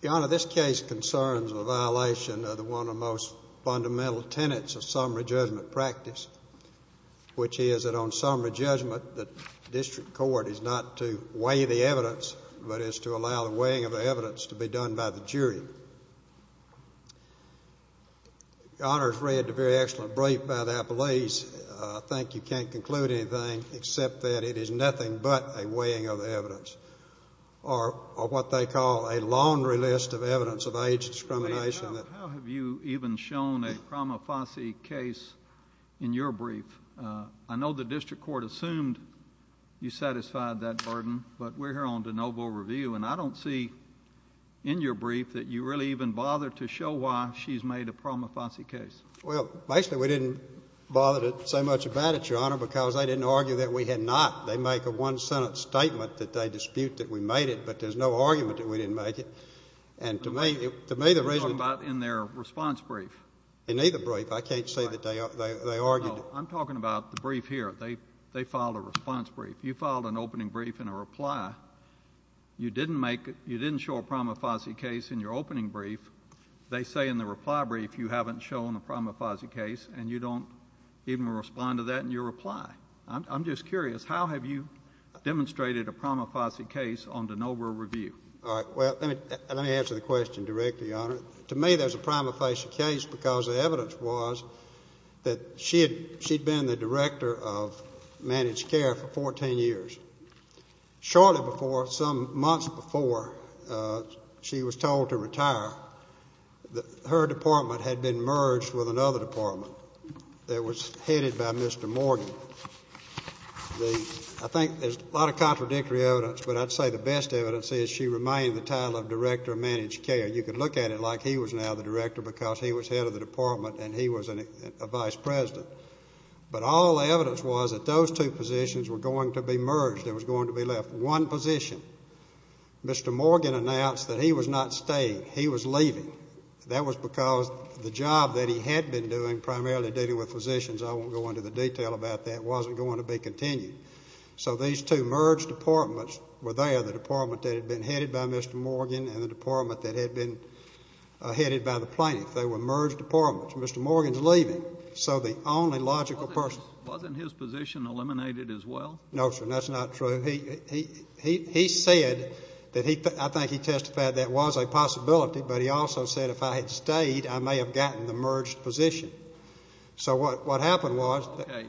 The Honour, this case concerns a violation of one of the most fundamental tenets of summary judgment practice, which is that on summary judgment the district court is not to weigh the evidence but is to allow the weighing of the evidence to be done by the jury. The very excellent brief by the Appalachians, I think you can't conclude anything except that it is nothing but a weighing of the evidence or what they call a laundry list of evidence of age discrimination. How have you even shown a prima facie case in your brief? I know the district court assumed you satisfied that burden, but we're here on de novo review and I don't see in your brief that you really even bother to show why she's made a prima facie case. Well, basically we didn't bother to say much about it, Your Honour, because they didn't argue that we had not. They make a one-sentence statement that they dispute that we made it, but there's no argument that we didn't make it. And to me, to me the reason You're talking about in their response brief. In either brief. I can't say that they argued No, I'm talking about the brief here. They filed a response brief. You filed an opening brief in a reply. You didn't make, you didn't show a prima facie case in your opening brief. They say in the reply brief you haven't shown a prima facie case and you don't even respond to that in your reply. I'm just curious, how have you demonstrated a prima facie case on de novo review? All right, well, let me answer the question directly, Your Honour. To me there's a prima facie case because the evidence was that she had been the director of managed care for 14 years. Shortly before, some months before she was told to retire, her department had been merged with another department that was headed by Mr. Morgan. I think there's a lot of contradictory evidence, but I'd say the best evidence is she remained the title of director of managed care. You can look at it like he was now the director because he was head of the department and he was a vice president. But all the evidence was that those two positions were going to be merged, they were going to be left. One position, Mr. Morgan announced that he was not staying, he was leaving. That was because the job that he had been doing, primarily dealing with physicians, I won't go into the detail about that, wasn't going to be continued. So these two merged departments were there, the department that had been headed by Mr. Morgan and the department that had been headed by the plaintiff. They were merged departments. Mr. Morgan's leaving, so the only logical person. Wasn't his position eliminated as well? No, sir, that's not true. He said, I think he testified that was a possibility, but he also said if I had stayed, I may have gotten the merged position. So what happened was... Okay,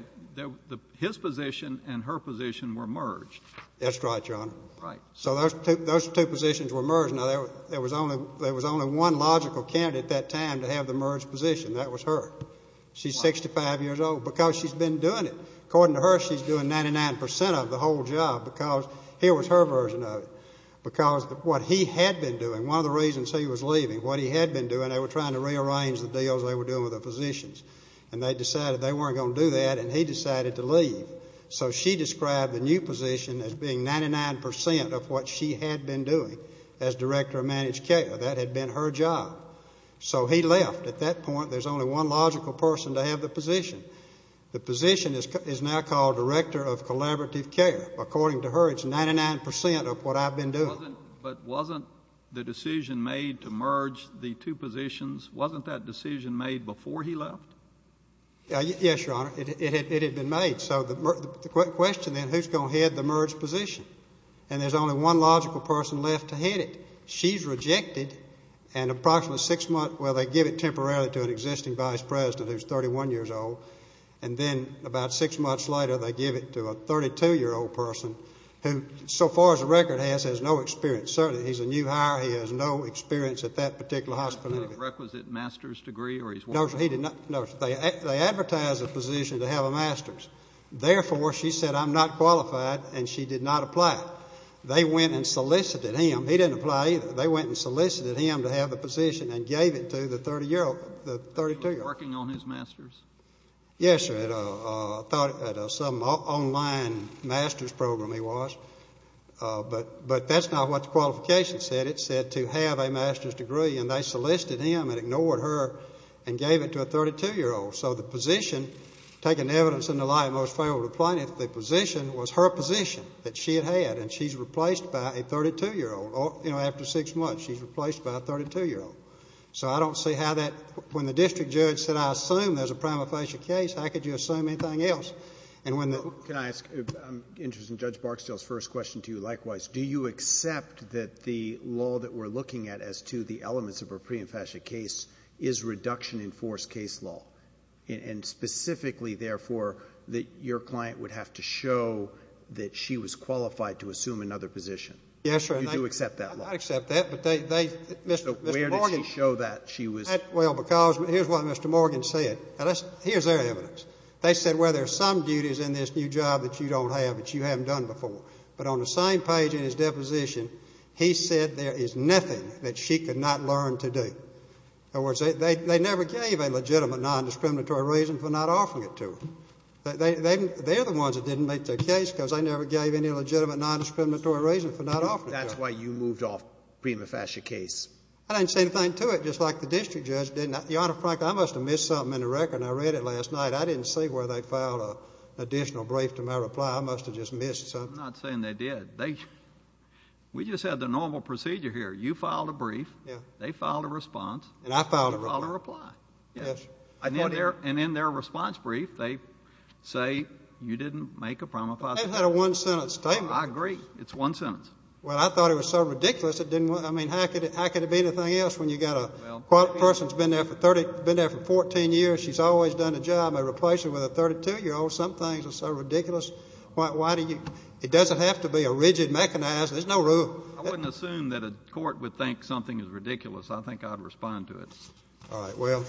his position and her position were merged. That's right, Your Honor. Right. So those two positions were merged. Now there was only one logical candidate at that time to have the merged position, that was her. She's 65 years old because she's been doing it. According to her, she's been doing 99% of the whole job because here was her version of it. Because what he had been doing, one of the reasons he was leaving, what he had been doing, they were trying to rearrange the deals they were doing with the physicians. And they decided they weren't going to do that and he decided to leave. So she described the new position as being 99% of what she had been doing as director of managed care. That had been her job. So he left. At that point, there's only one logical person to have the position. The position is now called director of collaborative care. According to her, it's 99% of what I've been doing. But wasn't the decision made to merge the two positions, wasn't that decision made before he left? Yes, Your Honor. It had been made. So the question then, who's going to head the merged position? And there's only one logical person left to head it. She's rejected and approximately six months, well, they give it temporarily to an existing vice president who's 31 years old. And then about six months later, they give it to a 32-year-old person who, so far as the record has, has no experience. Certainly, he's a new hire. He has no experience at that particular hospital. Requisite master's degree? No, sir. He did not. No, sir. They advertised the position to have a master's. Therefore, she said, I'm not qualified and she did not apply. They went and solicited him. He didn't apply either. They went and solicited him to have the position and gave it to the 30-year-old, the 32-year-old. Working on his master's? Yes, sir. At a, at a, some online master's program he was. But, but that's not what the qualification said. It said to have a master's degree and they solicited him and ignored her and gave it to a 32-year-old. So the position, taken evidence in the light of Most Favorable Appointment, the position was her position that she had had and she's replaced by a 32-year-old. You know, after six months, she's replaced by a 32-year-old. So I don't see how that, when the district judge said, I assume there's a prima facie case, how could you assume anything else? And when the. Can I ask, I'm interested in Judge Barksdale's first question to you likewise. Do you accept that the law that we're looking at as to the elements of a prima facie case is reduction in force case law? And, and specifically, therefore, that your client would have to show that she was qualified to assume another position? Yes, sir. Do you accept that law? I accept that, but they, they, Mr. Morgan. So where did she show that she was. Well, because here's what Mr. Morgan said. Here's their evidence. They said, well, there's some duties in this new job that you don't have, that you haven't done before. But on the same page in his deposition, he said there is nothing that she could not learn to do. In other words, they never gave a legitimate nondiscriminatory reason for not offering it to her. They, they, they're the ones that didn't make their case because they never gave any legitimate nondiscriminatory reason for not offering it to her. That's why you moved off prima facie case. I didn't say anything to it, just like the district judge did. Now, Your Honor, frankly, I must have missed something in the record. I read it last night. I didn't see where they filed an additional brief to my reply. I must have just missed something. I'm not saying they did. They, we just had the normal procedure here. You filed a brief. Yeah. They filed a response. And I filed a reply. You filed a reply. Yes. And in their, in their response brief, they say you didn't make a prima facie case. They had a one-sentence statement. I agree. It's one sentence. Well, I thought it was so ridiculous it didn't, I mean, how could it, how could it be anything else when you've got a person who's been there for 30, been there for 14 years, she's always done a job of replacing with a 32-year-old. Some things are so ridiculous. Why, why do you, it doesn't have to be a rigid mechanism. There's no rule. I wouldn't assume that a court would think something is ridiculous. I think I'd respond to it. All right. Well,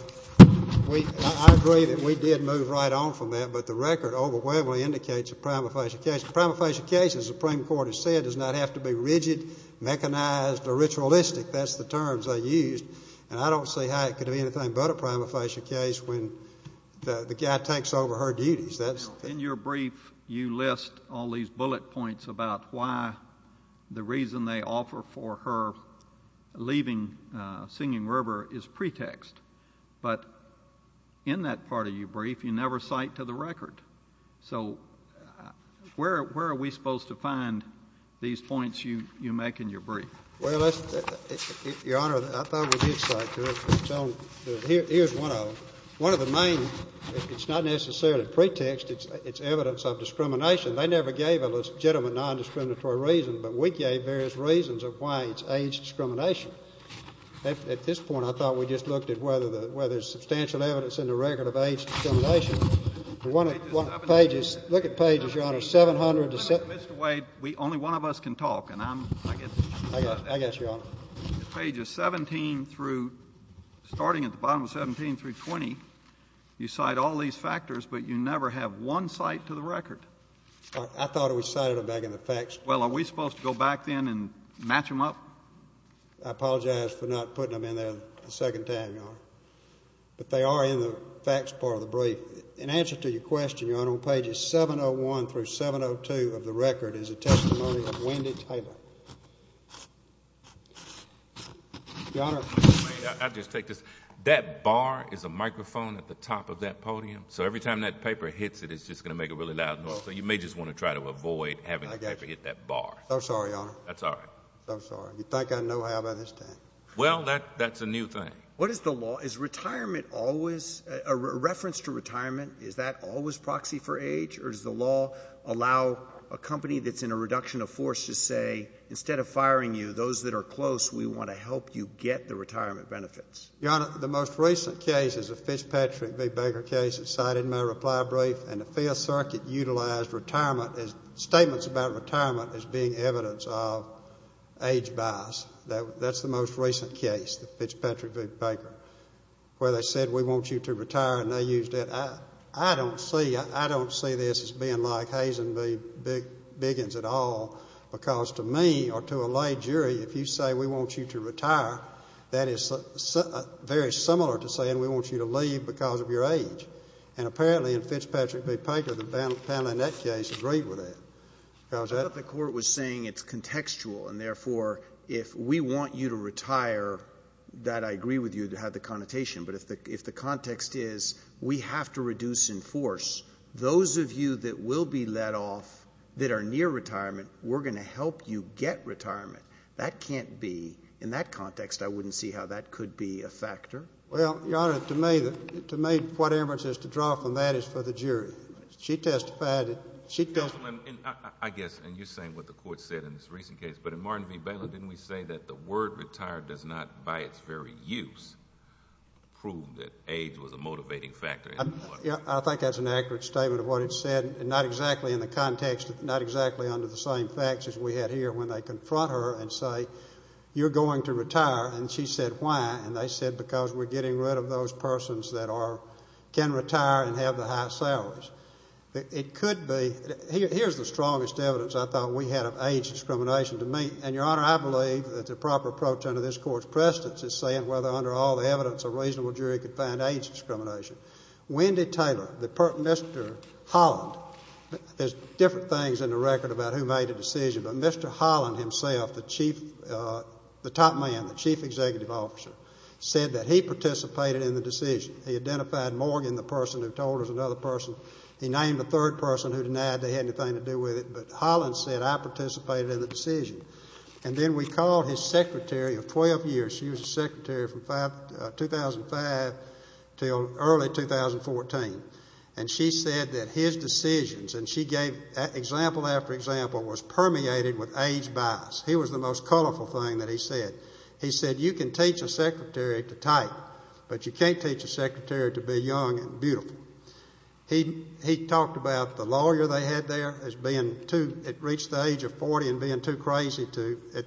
we, I agree that we did move right on from that, but the record overwhelmingly indicates a prima facie case. A prima facie case, as the Supreme Court has said, does not have to be rigid, mechanized, or ritualistic. That's the terms they used. And I don't see how it could be anything but a prima facie case when the guy takes over her duties. That's. In your brief, you list all these bullet points about why the reason they offer for her leaving Singing River is pretext. But in that part of your brief, you never cite to the record. So where, where are we supposed to find these points you, you make in your brief? Well, let's, Your Honor, I thought we did cite to it. Here, here's one of them. One of the main, it's not necessarily pretext, it's, it's evidence of discrimination. They never gave a legitimate non-discriminatory reason, but we gave various reasons of why it's age discrimination. At, at this point, I thought we just looked at whether the, whether there's substantial evidence in the record of age discrimination. For one of the pages, look at pages, Your Honor, 700 to 700. Mr. Wade, we, only one of us can talk, and I'm, I guess. I guess, Your Honor. Pages 17 through, starting at the bottom of 17 through 20, you cite all these factors, but you never have one cite to the record. I, I thought we cited them back in the facts. Well, are we supposed to go back then and match them up? I apologize for not putting them in there a second time, Your Honor. But they are in the facts part of the brief. In answer to your question, Your Honor, on pages 701 through 702 of the record is a testimony of Wendy Taylor. Your Honor. I'll just take this. That bar is a microphone at the top of that podium, so every time that paper hits it, it's just going to make a really loud noise, so you may just want to try to avoid having the paper hit that bar. I'm sorry, Your Honor. That's all right. I'm sorry. You think I know how to understand. Well, that, that's a new thing. What is the law? Is retirement always, a reference to retirement, is that always proxy for age, or does the law allow a company that's in a reduction of force to say, instead of firing you, those that are close, we want to help you get the retirement benefits? Your Honor, the most recent case is a Fitzpatrick v. Baker case that's cited in my reply brief, and the Fifth Circuit utilized retirement as, statements about retirement as being evidence of age bias. That's the most recent case, the Fitzpatrick v. Baker, where they said, we want you to retire, and they used it. I don't see, I don't see this as being like Hayes v. Biggins at all, because to me, or to a lay jury, if you say, we want you to retire, that is very similar to saying, we want you to leave because of your age. And apparently, in Fitzpatrick v. Baker, the panel in that case agreed with that. I thought the Court was saying it's contextual, and therefore, if we want you to retire, that I agree with you, to have the connotation, but if the, if the context is, we have to reduce in force, those of you that will be let off, that are near retirement, we're going to help you get retirement. That can't be, in that context, I wouldn't see how that could be a factor. Well, Your Honor, to me, to me, what Amherst is to draw from that is for the jury. She testified, she testified. I guess, and you're saying what the Court said in this recent case, but in Martin v. Baylor, didn't we say that the word retired does not, by its very use, prove that age was a motivating factor anymore? I think that's an accurate statement of what it said, and not exactly in the context, not exactly under the same facts as we had here when they confront her and say, you're going to retire, and she said, why? And they said, because we're getting rid of those persons that are, can retire and have the high salaries. It could be, here's the strongest evidence I thought we had of age discrimination to me, and Your Honor, I believe that the proper approach under this Court's precedence is saying whether under all the evidence, a reasonable jury could find age discrimination. Wendy Taylor, Mr. Holland, there's different things in the record about who made a decision, but Mr. Holland himself, the chief, the top man, the chief executive officer, said that he participated in the decision. He identified Morgan, the person who told us another person. He named the third person who denied they had anything to do with it, but Holland said, I participated in the decision, and then we called his secretary of 12 years. She was his secretary from 2005 until early 2014, and she said that his decisions, and she gave example after example, was permeated with age bias. He was the most colorful thing that he said. He said, you can teach a secretary to type, but you can't teach a secretary to be young and beautiful. He talked about the lawyer they had there as being too, it reached the age of 40 and being too crazy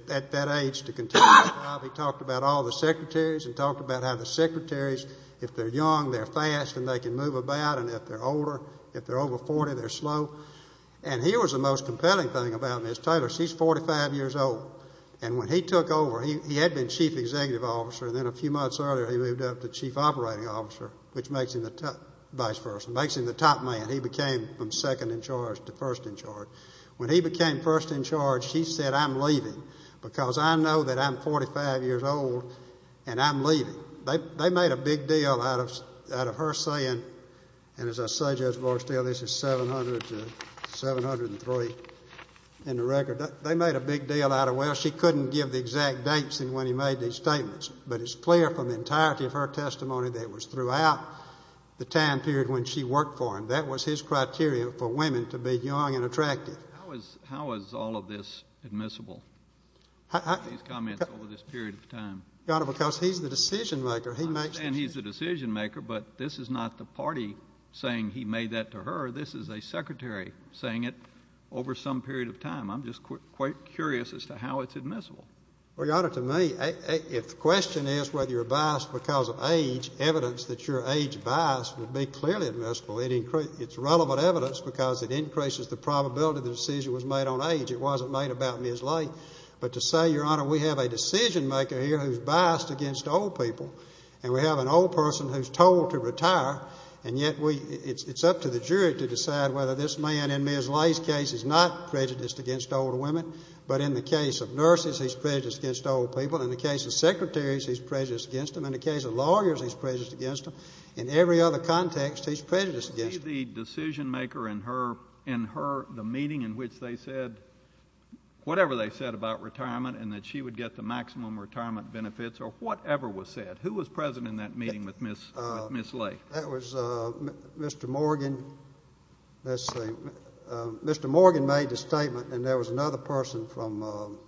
at that age to continue the job. He talked about all the secretaries and talked about how the secretaries, if they're young, they're fast and they can move about, and if they're older, if they're over 40, they're slow. And here was the most compelling thing about Ms. Taylor. She's 45 years old, and when he took over, he had been chief executive officer, and then a few months earlier, he moved up to chief operating officer, which makes him the top man. He became from second in charge to first in charge. When he became first in charge, he said, I'm leaving because I know that I'm 45 years old, and I'm leaving. They made a big deal out of her saying, and as I say, Judge Barstow, this is 703 in the record. They made a big deal out of, well, she couldn't give the exact dates and when he made these statements, but it's clear from the entirety of her testimony that it was throughout the time period when she worked for him, that was his criteria for women to be young and attractive. How is all of this admissible, these comments over this period of time? Your Honor, because he's the decision-maker. I'm not saying he's the decision-maker, but this is not the party saying he made that to her. This is a secretary saying it over some period of time. I'm just quite curious as to how it's admissible. Well, Your Honor, to me, if the question is whether you're biased because of age, evidence that you're age-biased would be clearly admissible. It's relevant evidence because it increases the probability the decision was made on age. It wasn't made about Ms. Lay. But to say, Your Honor, we have a decision-maker here who's biased against old people and we have an old person who's told to retire and yet it's up to the jury to decide whether this man in Ms. Lay's case is not prejudiced against older women, but in the case of nurses, he's prejudiced against old people. In the case of secretaries, he's prejudiced against them. In the case of lawyers, he's prejudiced against them. In every other context, he's prejudiced against them. Was she the decision-maker in the meeting in which they said whatever they said about retirement and that she would get the maximum retirement benefits or whatever was said? Who was present in that meeting with Ms. Lay? That was Mr. Morgan. Mr. Morgan made the statement and there was another person from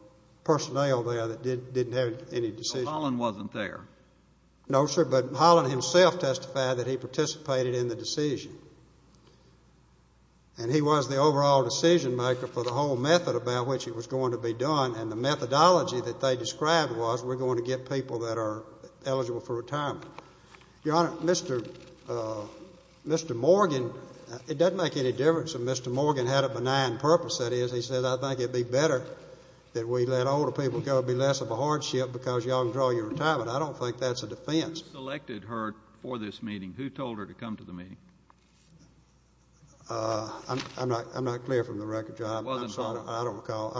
personnel there that didn't have any decision. So Holland wasn't there? No, sir, but Holland himself testified that he participated in the decision. And he was the overall decision-maker for the whole method about which it was going to be done and the methodology that they described was we're going to get people that are eligible for retirement. Your Honor, Mr. Morgan, it doesn't make any difference if Mr. Morgan had a benign purpose. That is, he said, I think it'd be better that we let older people go. It'd be less of a hardship because you all can draw your retirement. I don't think that's a defense. Who selected her for this meeting? Who told her to come to the meeting? I'm not clear from the record, Your Honor. I don't recall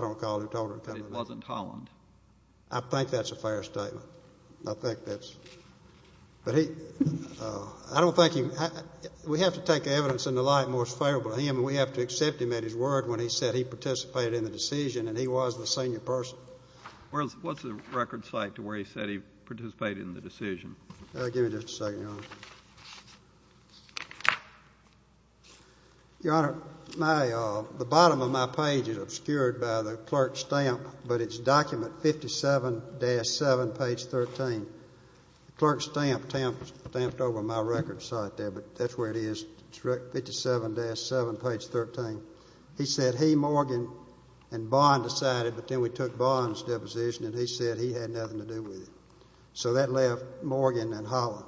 who told her to come to the meeting. It wasn't Holland? I think that's a fair statement. I think that's... We have to take evidence in the light most favorable to him and we have to accept him at his word when he said he participated in the decision and he was the senior person. What's the record site to where he said he participated in the decision? Give me just a second, Your Honor. Your Honor, the bottom of my page is obscured by the clerk's stamp, but it's document 57-7, page 13. The clerk's stamp stamped over my record site there, but that's where it is. 57-7, page 13. He said he, Morgan, and Bond decided, but then we took Bond's deposition and he said he had nothing to do with it. So that left Morgan and Holland.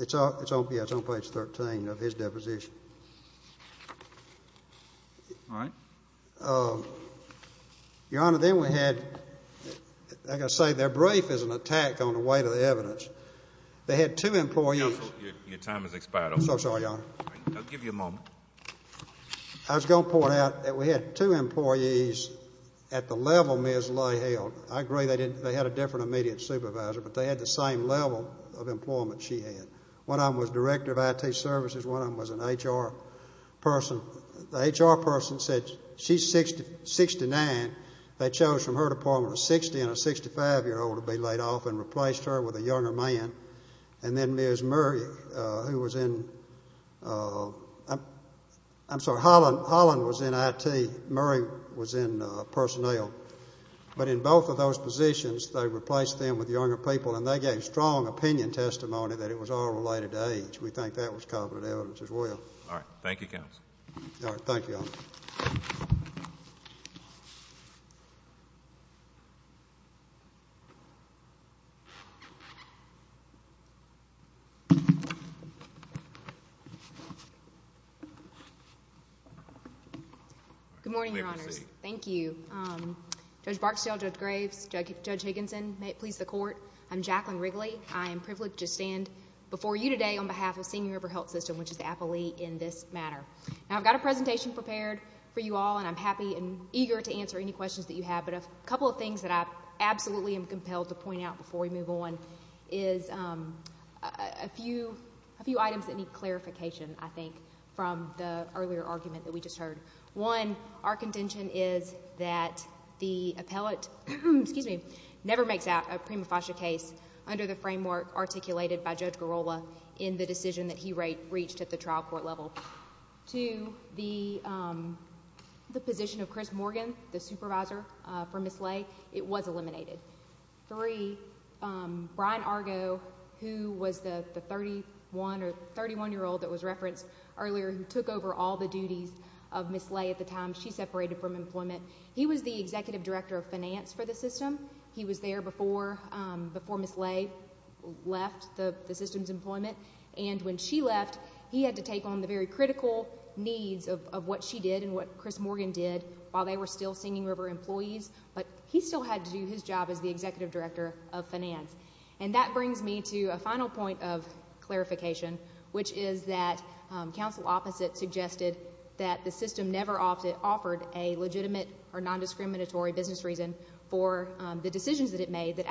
It's on page 13 of his deposition. All right. Your Honor, then we had, like I say, their brief is an attack on the weight of the I'm so sorry, Your Honor. I was going to point out that we had two employees at the level Ms. Lay held. I agree they had a different immediate supervisor, but they had the same level of employment she had. One of them was director of IT services. One of them was an HR person. The HR person said she's 69. They chose from her department a 60 and a 65-year-old to be laid off and replaced her with a younger man. And then Ms. Murray, who was in, I'm sorry, Holland was in IT. Murray was in personnel. But in both of those positions, they replaced them with younger people, and they gave strong opinion testimony that it was all related to age. We think that was competent evidence as well. All right. Thank you, Counsel. All right. Thank you, Your Honor. Good morning, Your Honors. Thank you. Judge Barksdale, Judge Graves, Judge Higginson, may it please the Court. I'm Jacqueline Wrigley. I am privileged to stand before you today on behalf of Senior River Health System, which is the appellee in this matter. Now, I've got a presentation prepared for you all, and I'm happy and eager to answer any questions that you have. But a couple of things that I absolutely am compelled to point out before we move on is a few items that need clarification, I think, from the earlier argument that we just heard. One, our contention is that the appellate never makes out a prima facie case under the framework articulated by Judge Garrola in the decision that he reached at the trial court level. Two, the position of Chris Morgan, the supervisor for Ms. Lay, it was eliminated. Three, Brian Argo, who was the 31-year-old that was referenced earlier, who took over all the duties of Ms. Lay at the time, she separated from employment. He was the Executive Director of Finance when she left the system's employment, and when she left, he had to take on the very critical needs of what she did and what Chris Morgan did while they were still Senior River employees, but he still had to do his job as the Executive Director of Finance. And that brings me to a final point of clarification, which is that counsel opposite suggested that the system never offered a legitimate or nondiscriminatory business reason for the decisions that it made that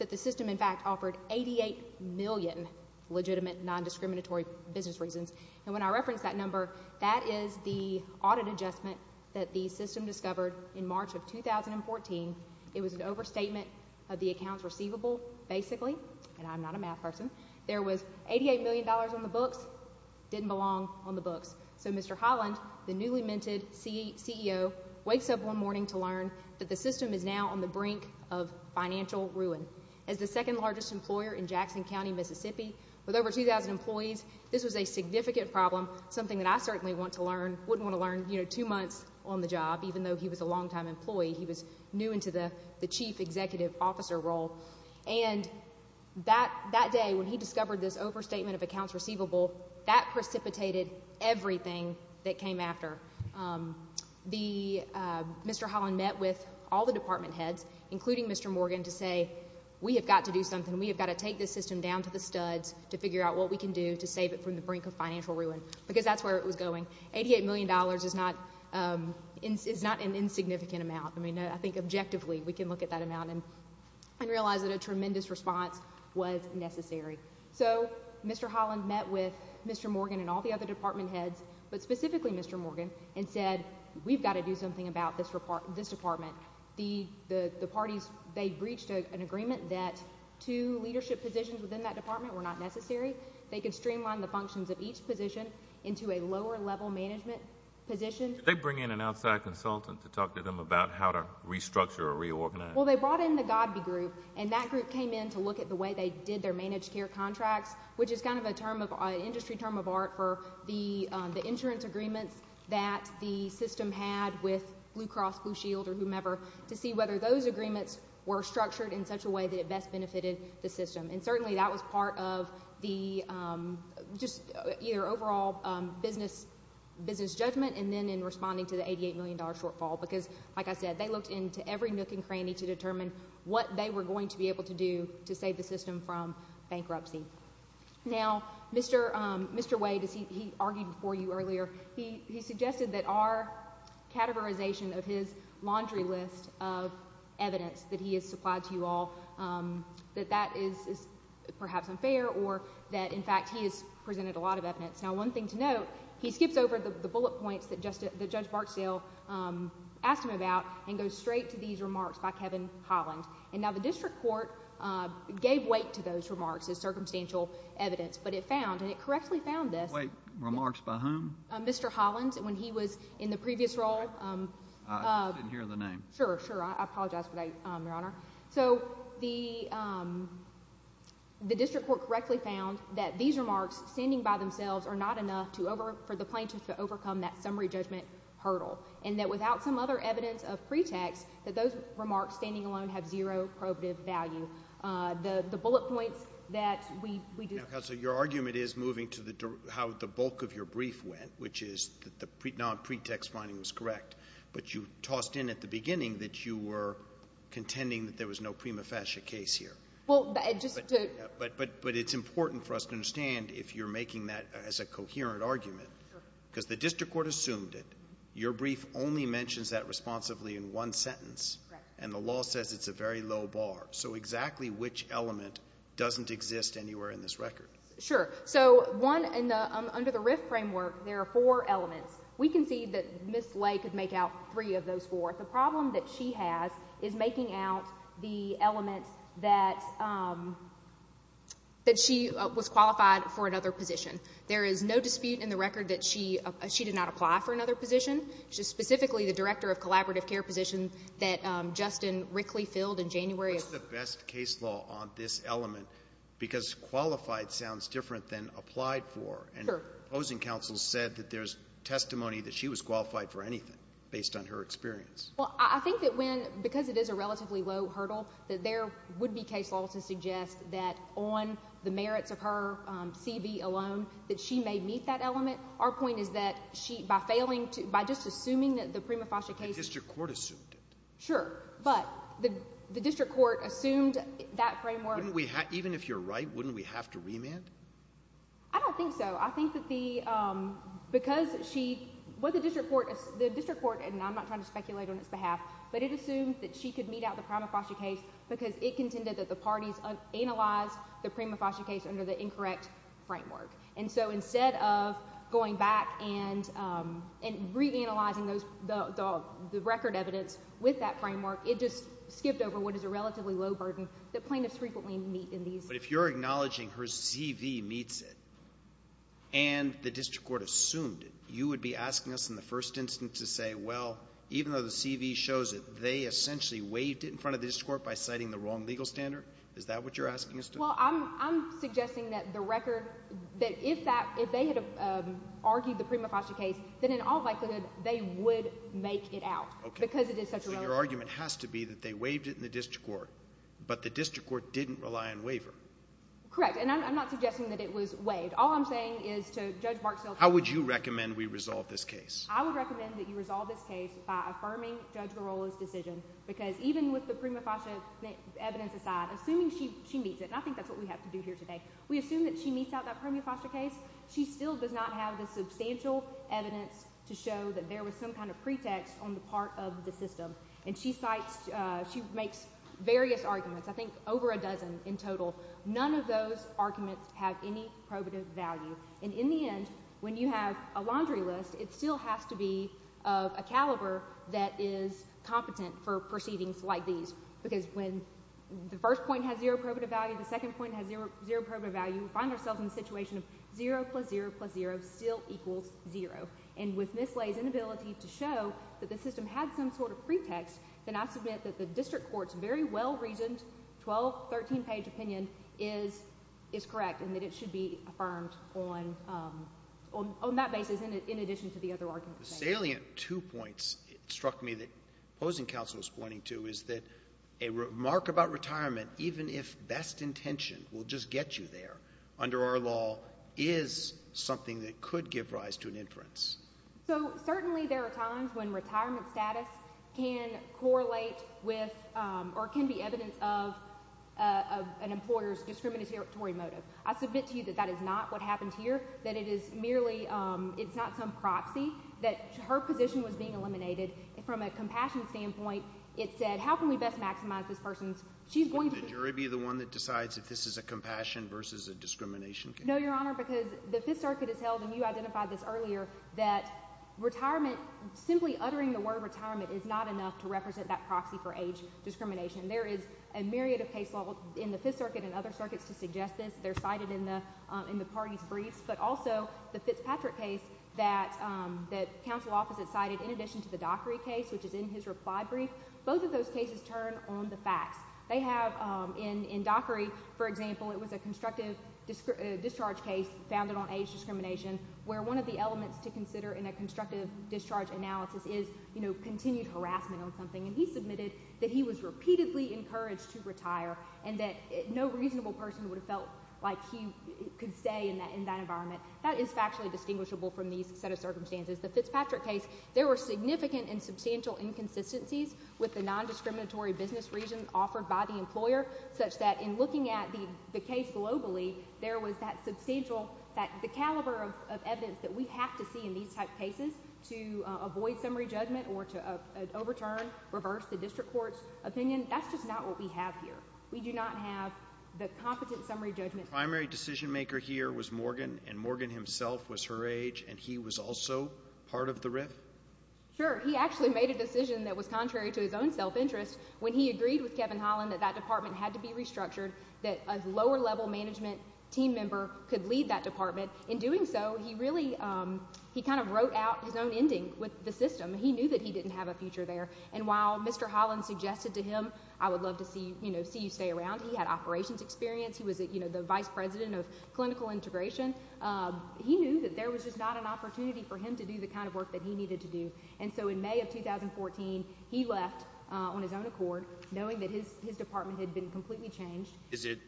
that the system, in fact, offered 88 million legitimate nondiscriminatory business reasons. And when I reference that number, that is the audit adjustment that the system discovered in March of 2014. It was an overstatement of the accounts receivable, basically, and I'm not a math person. There was $88 million on the books, didn't belong on the books. So Mr. Holland, the newly of financial ruin. As the second largest employer in Jackson County, Mississippi, with over 2,000 employees, this was a significant problem, something that I certainly want to learn, wouldn't want to learn, you know, two months on the job, even though he was a long-time employee. He was new into the Chief Executive Officer role. And that day, when he discovered this overstatement of accounts receivable, that precipitated everything that came after. Um, the, uh, Mr. Holland met with all the department heads, including Mr. Morgan, to say, we have got to do something. We have got to take this system down to the studs to figure out what we can do to save it from the brink of financial ruin, because that's where it was going. 88 million dollars is not, um, is not an insignificant amount. I mean, I think objectively, we can look at that amount and realize that a tremendous response was necessary. So Mr. Holland met with Mr. Morgan and all the other department heads, but specifically Mr. Morgan, and said, we've got to do something about this department. The parties, they breached an agreement that two leadership positions within that department were not necessary. They could streamline the functions of each position into a lower-level management position. Did they bring in an outside consultant to talk to them about how to restructure or reorganize? Well, they brought in the Godby Group, and that group came in to look at the way they did their managed care contracts, which is kind of a term of, an industry term of art for the insurance agreements that the system had with Blue Cross Blue Shield or whomever, to see whether those agreements were structured in such a way that it best benefited the system. And certainly, that was part of the, um, just either overall business judgment, and then in responding to the 88 million dollar shortfall, because, like I said, they looked into every nook and cranny to determine what they were going to be able to do to save the system from bankruptcy. Now, Mr., um, Mr. Wade, as he, he argued before you earlier, he, he suggested that our categorization of his laundry list of evidence that he has supplied to you all, um, that that is, is perhaps unfair or that, in fact, he has presented a lot of evidence. Now, one thing to note, he skips over the, the bullet points that just, that Judge Barksdale, um, asked him about and goes straight to these remarks by Kevin Hollins. And now, the district court, uh, gave weight to those remarks as circumstantial evidence, but it found, and it correctly found this— Wait, remarks by whom? Mr. Hollins, when he was in the previous role. I didn't hear the name. Sure, sure. I apologize for that, um, Your Honor. So, the, um, the district court correctly found that these remarks, standing by themselves, are not enough to over, for the plaintiff to overcome that summary judgment hurdle. And that without some other evidence of pretext, that those remarks, standing alone, have zero probative value. Uh, the, the bullet points that we, we do— Now, Counselor, your argument is moving to the, how the bulk of your brief went, which is that the pre, non-pretext finding was correct, but you tossed in at the beginning that you were contending that there was no prima facie case here. Well, just to— But, but, but it's important for us to understand if you're making that as a coherent argument, because the district court assumed it. Your brief only mentions that responsibly in one sentence, and the law says it's a very low bar. So, exactly which element doesn't exist anywhere in this record? Sure. So, one in the, um, under the RIF framework, there are four elements. We can see that Ms. Lay could make out three of those four. The problem that she has is making out the element that, um, that she, uh, was qualified for another position. There is no dispute in the record that she, uh, she did not apply for another position. She's specifically the director of collaborative care position that, um, Justin Rickley filled in January of— What's the best case law on this element? Because qualified sounds different than applied for. Sure. And opposing counsel said that there's testimony that she was qualified for anything based on her experience. Well, I, I think that when, because it is a relatively low hurdle, that there would be case laws to suggest that on the merits of her, um, CV alone, that she may meet that element. Our point is that she, by failing to, by just assuming that the prima facie case— The district court assumed it. Sure. But the, the district court assumed that framework— Wouldn't we, even if you're right, wouldn't we have to remand? I don't think so. I think that the, um, because she, what the district court, the district court, and I'm not trying to speculate on its behalf, but it assumed that she could meet out the prima facie case because it contended that the parties analyzed the prima facie case under the incorrect framework. And so instead of going back and, um, and reanalyzing those, the, the, the record evidence with that framework, it just skipped over what is a relatively low burden that plaintiffs frequently meet in these— But if you're acknowledging her CV meets it and the district court assumed it, you would be asking us in the first instance to say, well, even though the CV shows it, they essentially waived it in front of the district court by citing the wrong legal standard? Is that what you're asking us to do? Well, I'm, I'm suggesting that the record, that if that, if they had, um, argued the prima facie case, then in all likelihood, they would make it out. Okay. Because it is such a low— So your argument has to be that they waived it in the district court, but the district court didn't rely on waiver. Correct. And I'm, I'm not suggesting that it was waived. All I'm saying is to Judge Marks— How would you recommend we resolve this case? I would recommend that you resolve this case by affirming Judge Girola's decision, because even with the prima facie evidence aside, assuming she, she meets it, and I think that's what we have to do here today, we assume that she meets out that prima facie case, she still does not have the substantial evidence to show that there was some kind of pretext on the part of the system. And she cites, uh, she makes various arguments, I think over a dozen in total. None of those arguments have any probative value. And in the end, when you have a laundry list, it still has to be of a caliber that is competent for proceedings like these. Because when the first point has zero probative value, the second point has zero, zero probative value, we find ourselves in a situation of zero plus zero plus zero still equals zero. And with Ms. Lay's inability to show that the system had some sort of pretext, then I submit that the district court's very well-reasoned 12-, 13-page opinion is, is correct, and that it should be affirmed on, um, on, on that basis in addition to the other arguments. Salient two points struck me that opposing counsel is pointing to is that a remark about retirement, even if best intention will just get you there under our law, is something that could give rise to an inference. So, certainly there are times when retirement status can correlate with, um, or can be evidence of, uh, of an employer's discriminatory motive. I submit to you that that is not what happened here, that it is merely, um, it's not some proxy, that her position was being eliminated. From a compassion standpoint, it said, how can we best maximize this person's, she's going to be— So the jury be the one that decides if this is a compassion versus a discrimination case? No, Your Honor, because the Fifth Circuit has held, and you identified this earlier, that retirement, simply uttering the word retirement is not enough to represent that proxy for age discrimination. There is a myriad of case law in the Fifth Circuit and other circuits to suggest this. They're cited in the, um, in the parties' briefs, but also the Fitzpatrick case that, um, that counsel opposite cited, in addition to the Dockery case, which is in his reply brief, both of those cases turn on the facts. They have, um, in, in Dockery, for example, it was a constructive discharge case founded on age discrimination, where one of the elements to consider in a constructive discharge analysis is, you know, continued harassment on something. And he submitted that he was repeatedly encouraged to retire, and that no reasonable person would have felt like he could stay in that, in that environment. That is factually distinguishable from these set of circumstances. The Fitzpatrick case, there were significant and substantial inconsistencies with the nondiscriminatory business reasons offered by the employer, such that in looking at the, the case globally, there was that substantial, that, the caliber of, of evidence that we have to see in these type cases to, uh, avoid summary judgment or to, uh, overturn, reverse the district court's opinion. That's just not what we have here. We do not have the competent summary judgment. Primary decision maker here was Morgan, and Morgan himself was her age, and he was also part of the RIF? Sure. He actually made a decision that was contrary to his own self-interest when he agreed with Kevin Holland that that department had to be restructured, that a lower-level management team member could lead that department. In doing so, he really, um, he kind of wrote out his own ending with the system. He knew that he didn't have a future there, and while Mr. Holland suggested to him, I would love to see, you know, see you stay around, he had operations experience, he was, you know, the vice president of clinical integration, um, he knew that there was just not an opportunity for him to do the kind of work that he needed to do. And so in May of 2014, he left, uh, on his own accord, knowing that his department had been completely changed. Is it,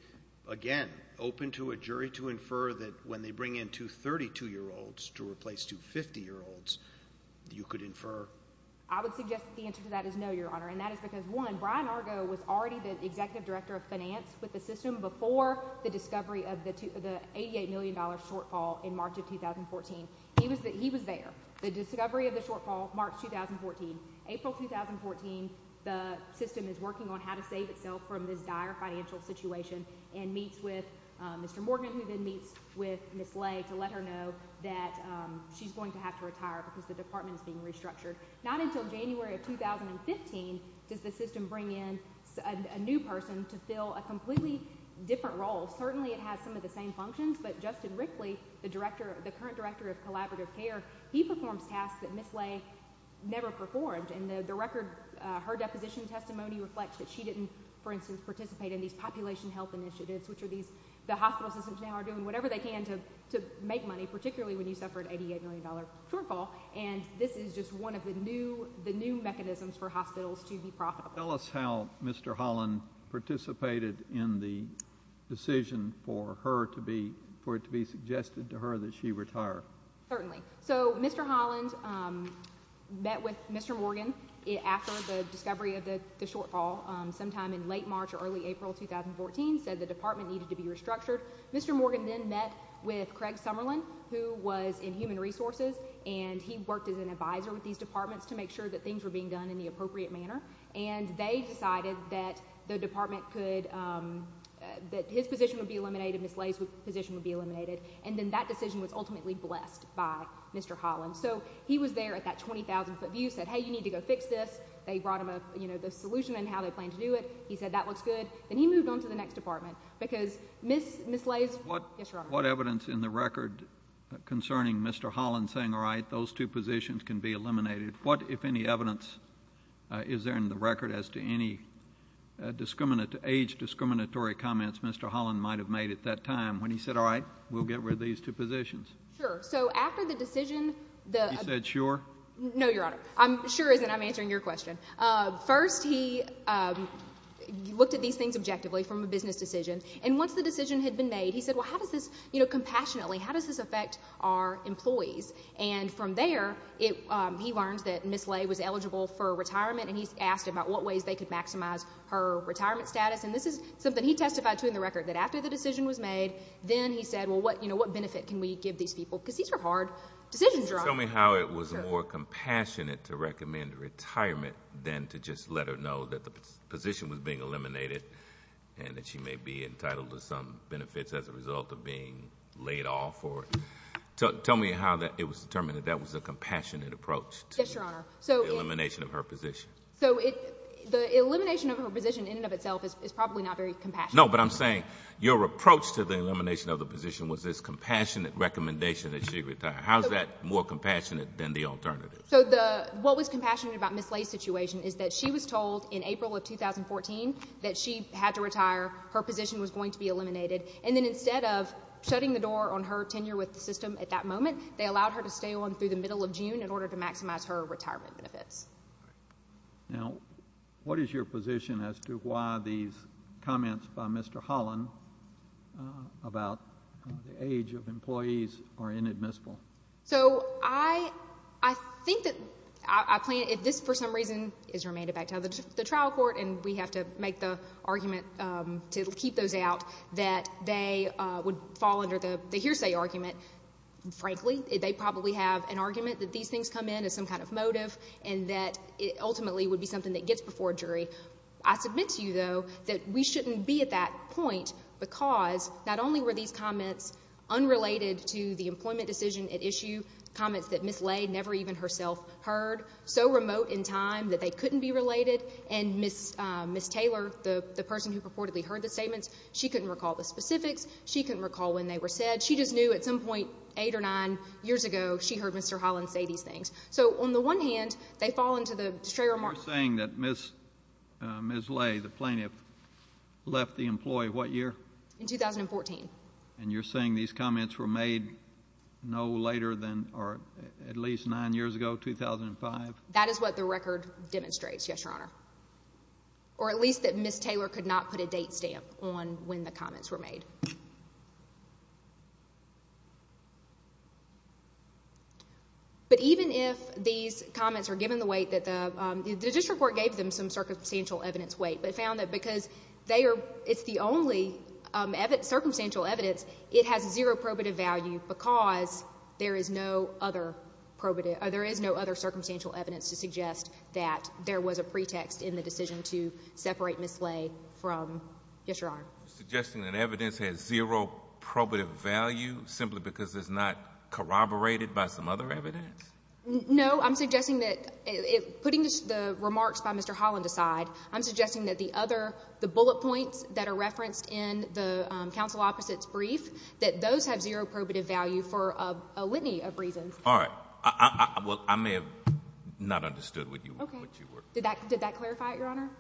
again, open to a jury to infer that when they bring in two 32-year-olds to replace two 50-year-olds, you could infer? I would suggest that the answer to that is no, Your Honor, and that is because, one, Brian Argo was already the executive director of finance with the system before the discovery of the $88 million shortfall in March of 2014. He was there. The discovery of the shortfall, March 2014. April 2014, the system is working on how to save itself from this dire financial situation and meets with, uh, Mr. Morgan, who then meets with Ms. Lay to let her know that, um, she's going to have to retire because the department is being restructured. Not until January of 2015 does the system bring in a new person to fill a completely different role. Certainly, it has some of the same functions, but Justin Rickley, the director, the current director of collaborative care, he performs tasks that Ms. Lay never performed, and the record, uh, her deposition testimony reflects that she didn't, for instance, participate in these population health initiatives, which are these, the hospital systems now are doing whatever they can to make money, particularly when you suffered an $88 million shortfall, and this is just one of the new, the new mechanisms for hospitals to be profitable. Tell us how Mr. Holland participated in the decision for her to be, for it to be suggested to her that she retire. Certainly. So, Mr. Holland, um, met with Mr. Morgan after the discovery of the shortfall, um, sometime in late March or early April 2014, said the department needed to be restructured. Mr. Morgan then met with Craig Summerlin, who was in human resources, and he worked as an advisor with these departments to make sure that things were being done in the appropriate manner, and they decided that the department could, um, that his position would be eliminated, Ms. Lay's position would be eliminated, and then that decision was ultimately blessed by Mr. Holland. So, he was there at that 20,000-foot view, said, hey, you need to go fix this. They brought him a, you know, the solution and how they planned to do it. He said that looks good. Then he moved on to the next department, because Ms. Ms. Lay's, yes, Your Honor. What evidence in the record concerning Mr. Holland saying, all right, those two positions can be eliminated, what, if any, evidence, uh, is there in the record as to any, uh, discriminate, age-discriminatory comments Mr. Holland might have made at that time when he said, all right, we'll get rid of these two positions? Sure. So, after the decision, the— He said, sure? No, Your Honor. I'm, sure isn't. I'm answering your question. Uh, first, he, um, looked at these things objectively from a business decision, and once the decision had been made, he said, well, how does this, you know, compassionately, how does this affect our employees? And from there, it, um, he learned that Ms. Lay was eligible for retirement, and he asked about what ways they could maximize her retirement status, and this is something he testified to in the record, that after the decision was made, then he said, well, what, you know, what benefit can we give these people? Because these are hard decisions, Your Honor. Tell me how it was more compassionate to recommend retirement than to just let her know that the position was being eliminated, and that she may be entitled to some benefits as a result of being laid off, or, tell, tell me how that it was determined that that was a compassionate approach to the elimination of her position. So, it, the elimination of her position in and of itself is probably not very compassionate. No, but I'm saying, your approach to the elimination of the position was this compassionate recommendation that she retire. How's that more compassionate than the alternative? So, the, what was compassionate about Ms. Lay's situation is that she was told in April of 2014 that she had to retire, her position was going to be eliminated, and then instead of shutting the door on her tenure with the system at that moment, they allowed her to stay on through the middle of June in order to maximize her retirement benefits. Now, what is your position as to why these comments by Mr. Holland about the age of employees are inadmissible? So, I, I think that I plan, if this for some reason is remanded back to the trial court, and we have to make the argument to keep those out, that they would fall under the they probably have an argument that these things come in as some kind of motive, and that it ultimately would be something that gets before a jury. I submit to you, though, that we shouldn't be at that point because not only were these comments unrelated to the employment decision at issue, comments that Ms. Lay never even herself heard, so remote in time that they couldn't be related, and Ms., Ms. Taylor, the, the person who purportedly heard the statements, she couldn't recall the specifics, she couldn't recall when they were said. She just knew at some point, eight or nine years ago, she heard Mr. Holland say these things. So, on the one hand, they fall into the stray remark. You're saying that Ms., Ms. Lay, the plaintiff, left the employee what year? In 2014. And you're saying these comments were made no later than, or at least nine years ago, 2005? That is what the record demonstrates, yes, your honor. Or at least that Ms. Taylor could not put a date stamp on when the comments were made. But even if these comments are given the weight that the, the district court gave them some circumstantial evidence weight, but found that because they are, it's the only circumstantial evidence, it has zero probative value because there is no other probative, there is no other circumstantial evidence to suggest that there was a pretext in the decision to separate Ms. Lay from, yes, your honor. Suggesting that evidence has zero probative value simply because it's not corroborated by some other evidence? No, I'm suggesting that, putting the remarks by Mr. Holland aside, I'm suggesting that the other, the bullet points that are referenced in the counsel opposite's brief, that those have zero probative value for a litany of reasons. All right. Well, I may have not understood what you were, what you were. Did that, did that clarify it, your honor?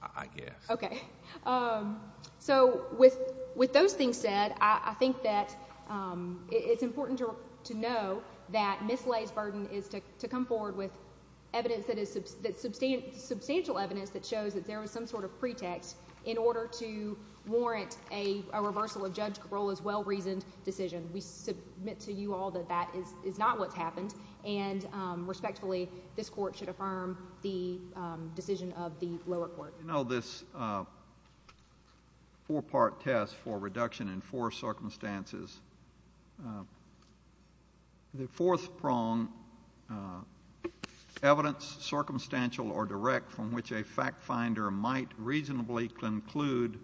I guess. Okay. So with, with those things said, I think that it's important to, to know that Ms. Lay's burden is to come forward with evidence that is, that substantial evidence that shows that there was some sort of pretext in order to warrant a, a reversal of Judge Cabrola's well-reasoned decision. We submit to you all that that is, is not what's happened and respectfully, this court should affirm the decision of the lower court. You know, this four-part test for reduction in four circumstances, the fourth prong, evidence circumstantial or direct from which a fact finder might reasonably conclude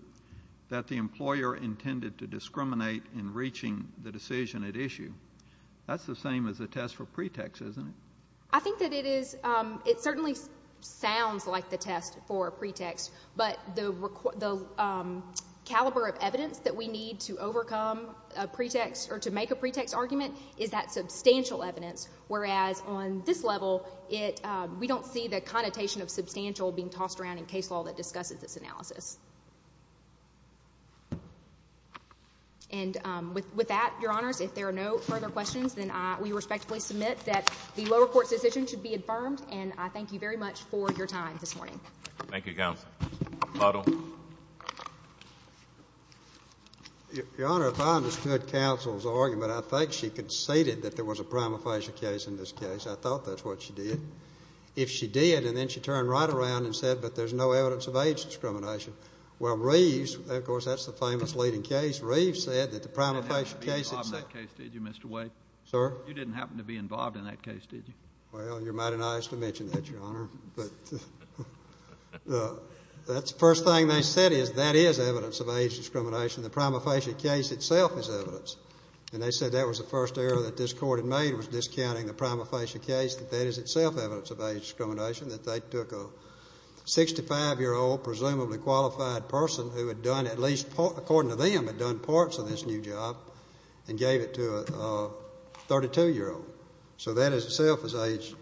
that the employer intended to discriminate in reaching the decision at issue. That's the same as the test for pretext, isn't it? I think that it is, it certainly sounds like the test for pretext, but the, the caliber of evidence that we need to overcome a pretext or to make a pretext argument is that substantial evidence, whereas on this level, it, we don't see the connotation of substantial being tossed around in case law that discusses this analysis. And with, with that, Your Honors, if there are no further questions, then I, we respectfully submit that the lower court's decision should be affirmed and I thank you very much for your time this morning. Thank you, Counsel. Butler. Your Honor, if I understood Counsel's argument, I think she conceded that there was a prima facie case in this case. I thought that's what she did. If she did, and then she turned right around and said, but there's no evidence of age discrimination. Well, Reeves, of course, that's the famous leading case. Reeves said that the prima facie case itself... You didn't happen to be involved in that case, did you, Mr. Wade? Sir? You didn't happen to be involved in that case, did you? Well, you're mighty nice to mention that, Your Honor, but that's the first thing they said is that is evidence of age discrimination. The prima facie case itself is evidence. And they said that was the first error that this court had made, was discounting the prima facie case, that that is itself evidence of age discrimination, that they took a 65-year-old, presumably qualified person who had done at least, according to them, had done parts of this new job and gave it to a 32-year-old. So that is itself is age,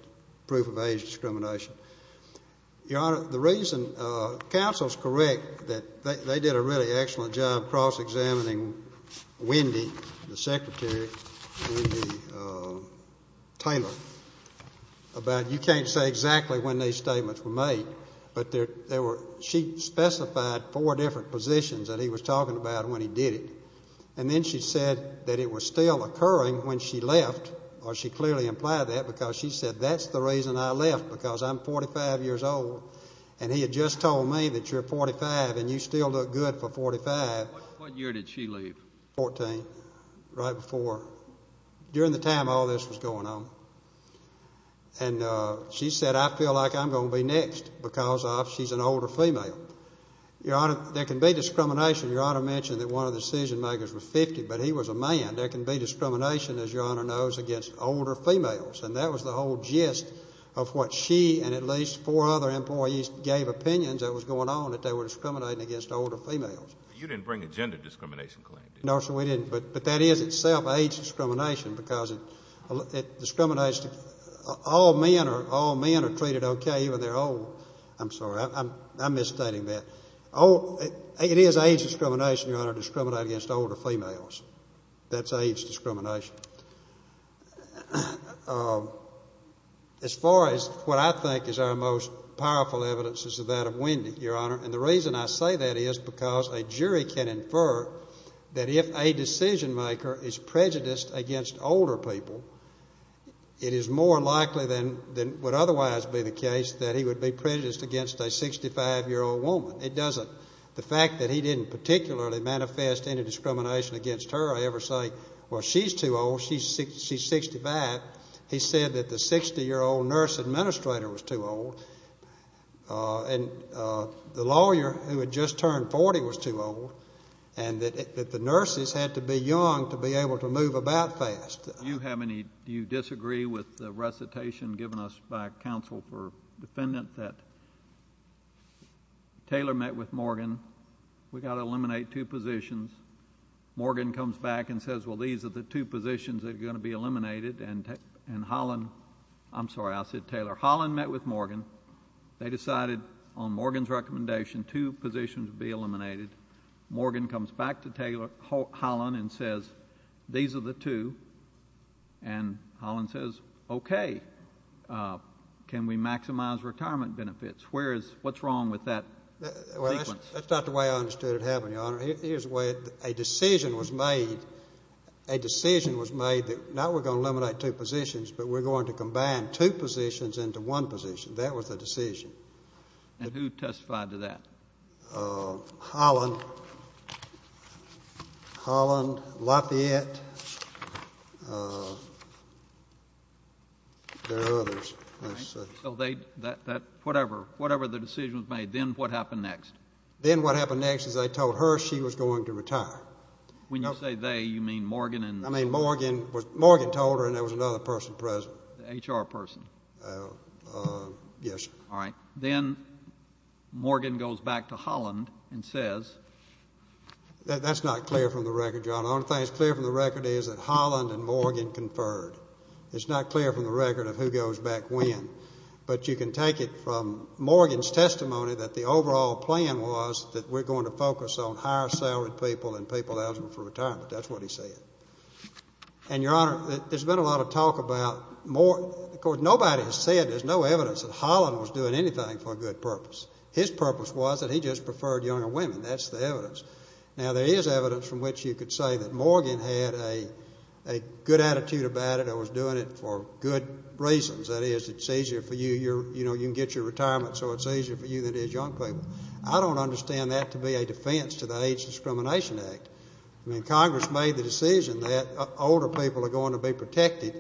proof of age discrimination. Your Honor, the reason counsel is correct that they did a really excellent job cross-examining Wendy, the secretary, Taylor, about you can't say exactly when these statements were made, but she specified four different positions that he was talking about when he did it. And then she said that it was still occurring when she left, or she clearly implied that, because she said that's the reason I left, because I'm 45 years old. And he had just told me that you're 45 and you still look good for 45. What year did she leave? 14, right before. During the time all this was going on. And she said, I feel like I'm going to be next because she's an older female. Your Honor, there can be discrimination. Your Honor mentioned that one of the decision makers was 50, but he was a man. There can be discrimination, as Your Honor knows, against older females. And that was the whole gist of what she and at least four other employees gave opinions that was going on that they were discriminating against older females. You didn't bring a gender discrimination claim, did you? No, sir, we didn't. But that is itself age discrimination because it discriminates. All men are treated okay, even though they're old. I'm sorry, I'm misstating that. It is age discrimination, Your Honor, to discriminate against older females. That's age discrimination. As far as what I think is our most powerful evidence is that of Wendy, Your Honor. And the reason I say that is because a jury can infer that if a decision maker is prejudiced against older people, it is more likely than would otherwise be the case that he would be prejudiced against a 65-year-old woman. It doesn't. The fact that he didn't particularly manifest any he said that the 60-year-old nurse administrator was too old, and the lawyer who had just turned 40 was too old, and that the nurses had to be young to be able to move about fast. Do you disagree with the recitation given us by counsel for defendant that Taylor met with Morgan? We've got to eliminate two positions. Morgan comes back and says, well, these are the two positions that are going to be eliminated, and Holland, I'm sorry, I said Taylor. Holland met with Morgan. They decided on Morgan's recommendation two positions would be eliminated. Morgan comes back to Taylor, Holland, and says, these are the two. And Holland says, okay, can we maximize retirement benefits? Where is, what's wrong with that? That's not the way I understood it happening, Your Honor. Here's a decision was made, a decision was made that not we're going to eliminate two positions, but we're going to combine two positions into one position. That was the decision. And who testified to that? Holland, Holland, Lafayette, there are others. So they, that, that, whatever, whatever the decision was made, then what happened next? Then what happened next is they told her she was going to retire. When you say they, you mean Morgan and? I mean, Morgan was, Morgan told her, and there was another person present. The HR person? Yes. All right. Then Morgan goes back to Holland and says. That's not clear from the record, Your Honor. The only thing that's clear from the record is that Holland and Morgan conferred. It's not clear from the record of who goes back when. But you can take it from Morgan's testimony that the overall plan was that we're going to focus on higher salaried people and people eligible for retirement. That's what he said. And, Your Honor, there's been a lot of talk about, of course, nobody has said, there's no evidence that Holland was doing anything for a good purpose. His purpose was that he just preferred younger women. That's the evidence. Now, there is evidence from which you could say that Morgan had a good attitude about it or was doing it for good reasons. That is, it's easier for you, you know, you can get your retirement, so it's easier for you than it is young people. I don't understand that to be a defense to the Age Discrimination Act. I mean, Congress made the decision that older people are going to be protected,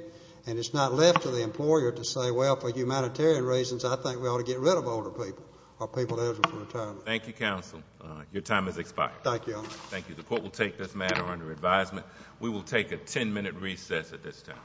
and it's not left to the employer to say, well, for humanitarian reasons, I think we ought to get rid of older people or people eligible for retirement. Thank you, counsel. Your time has expired. Thank you, Your Honor. Thank you. The court will take this matter under advisement. We will take a 10-minute recess at this time.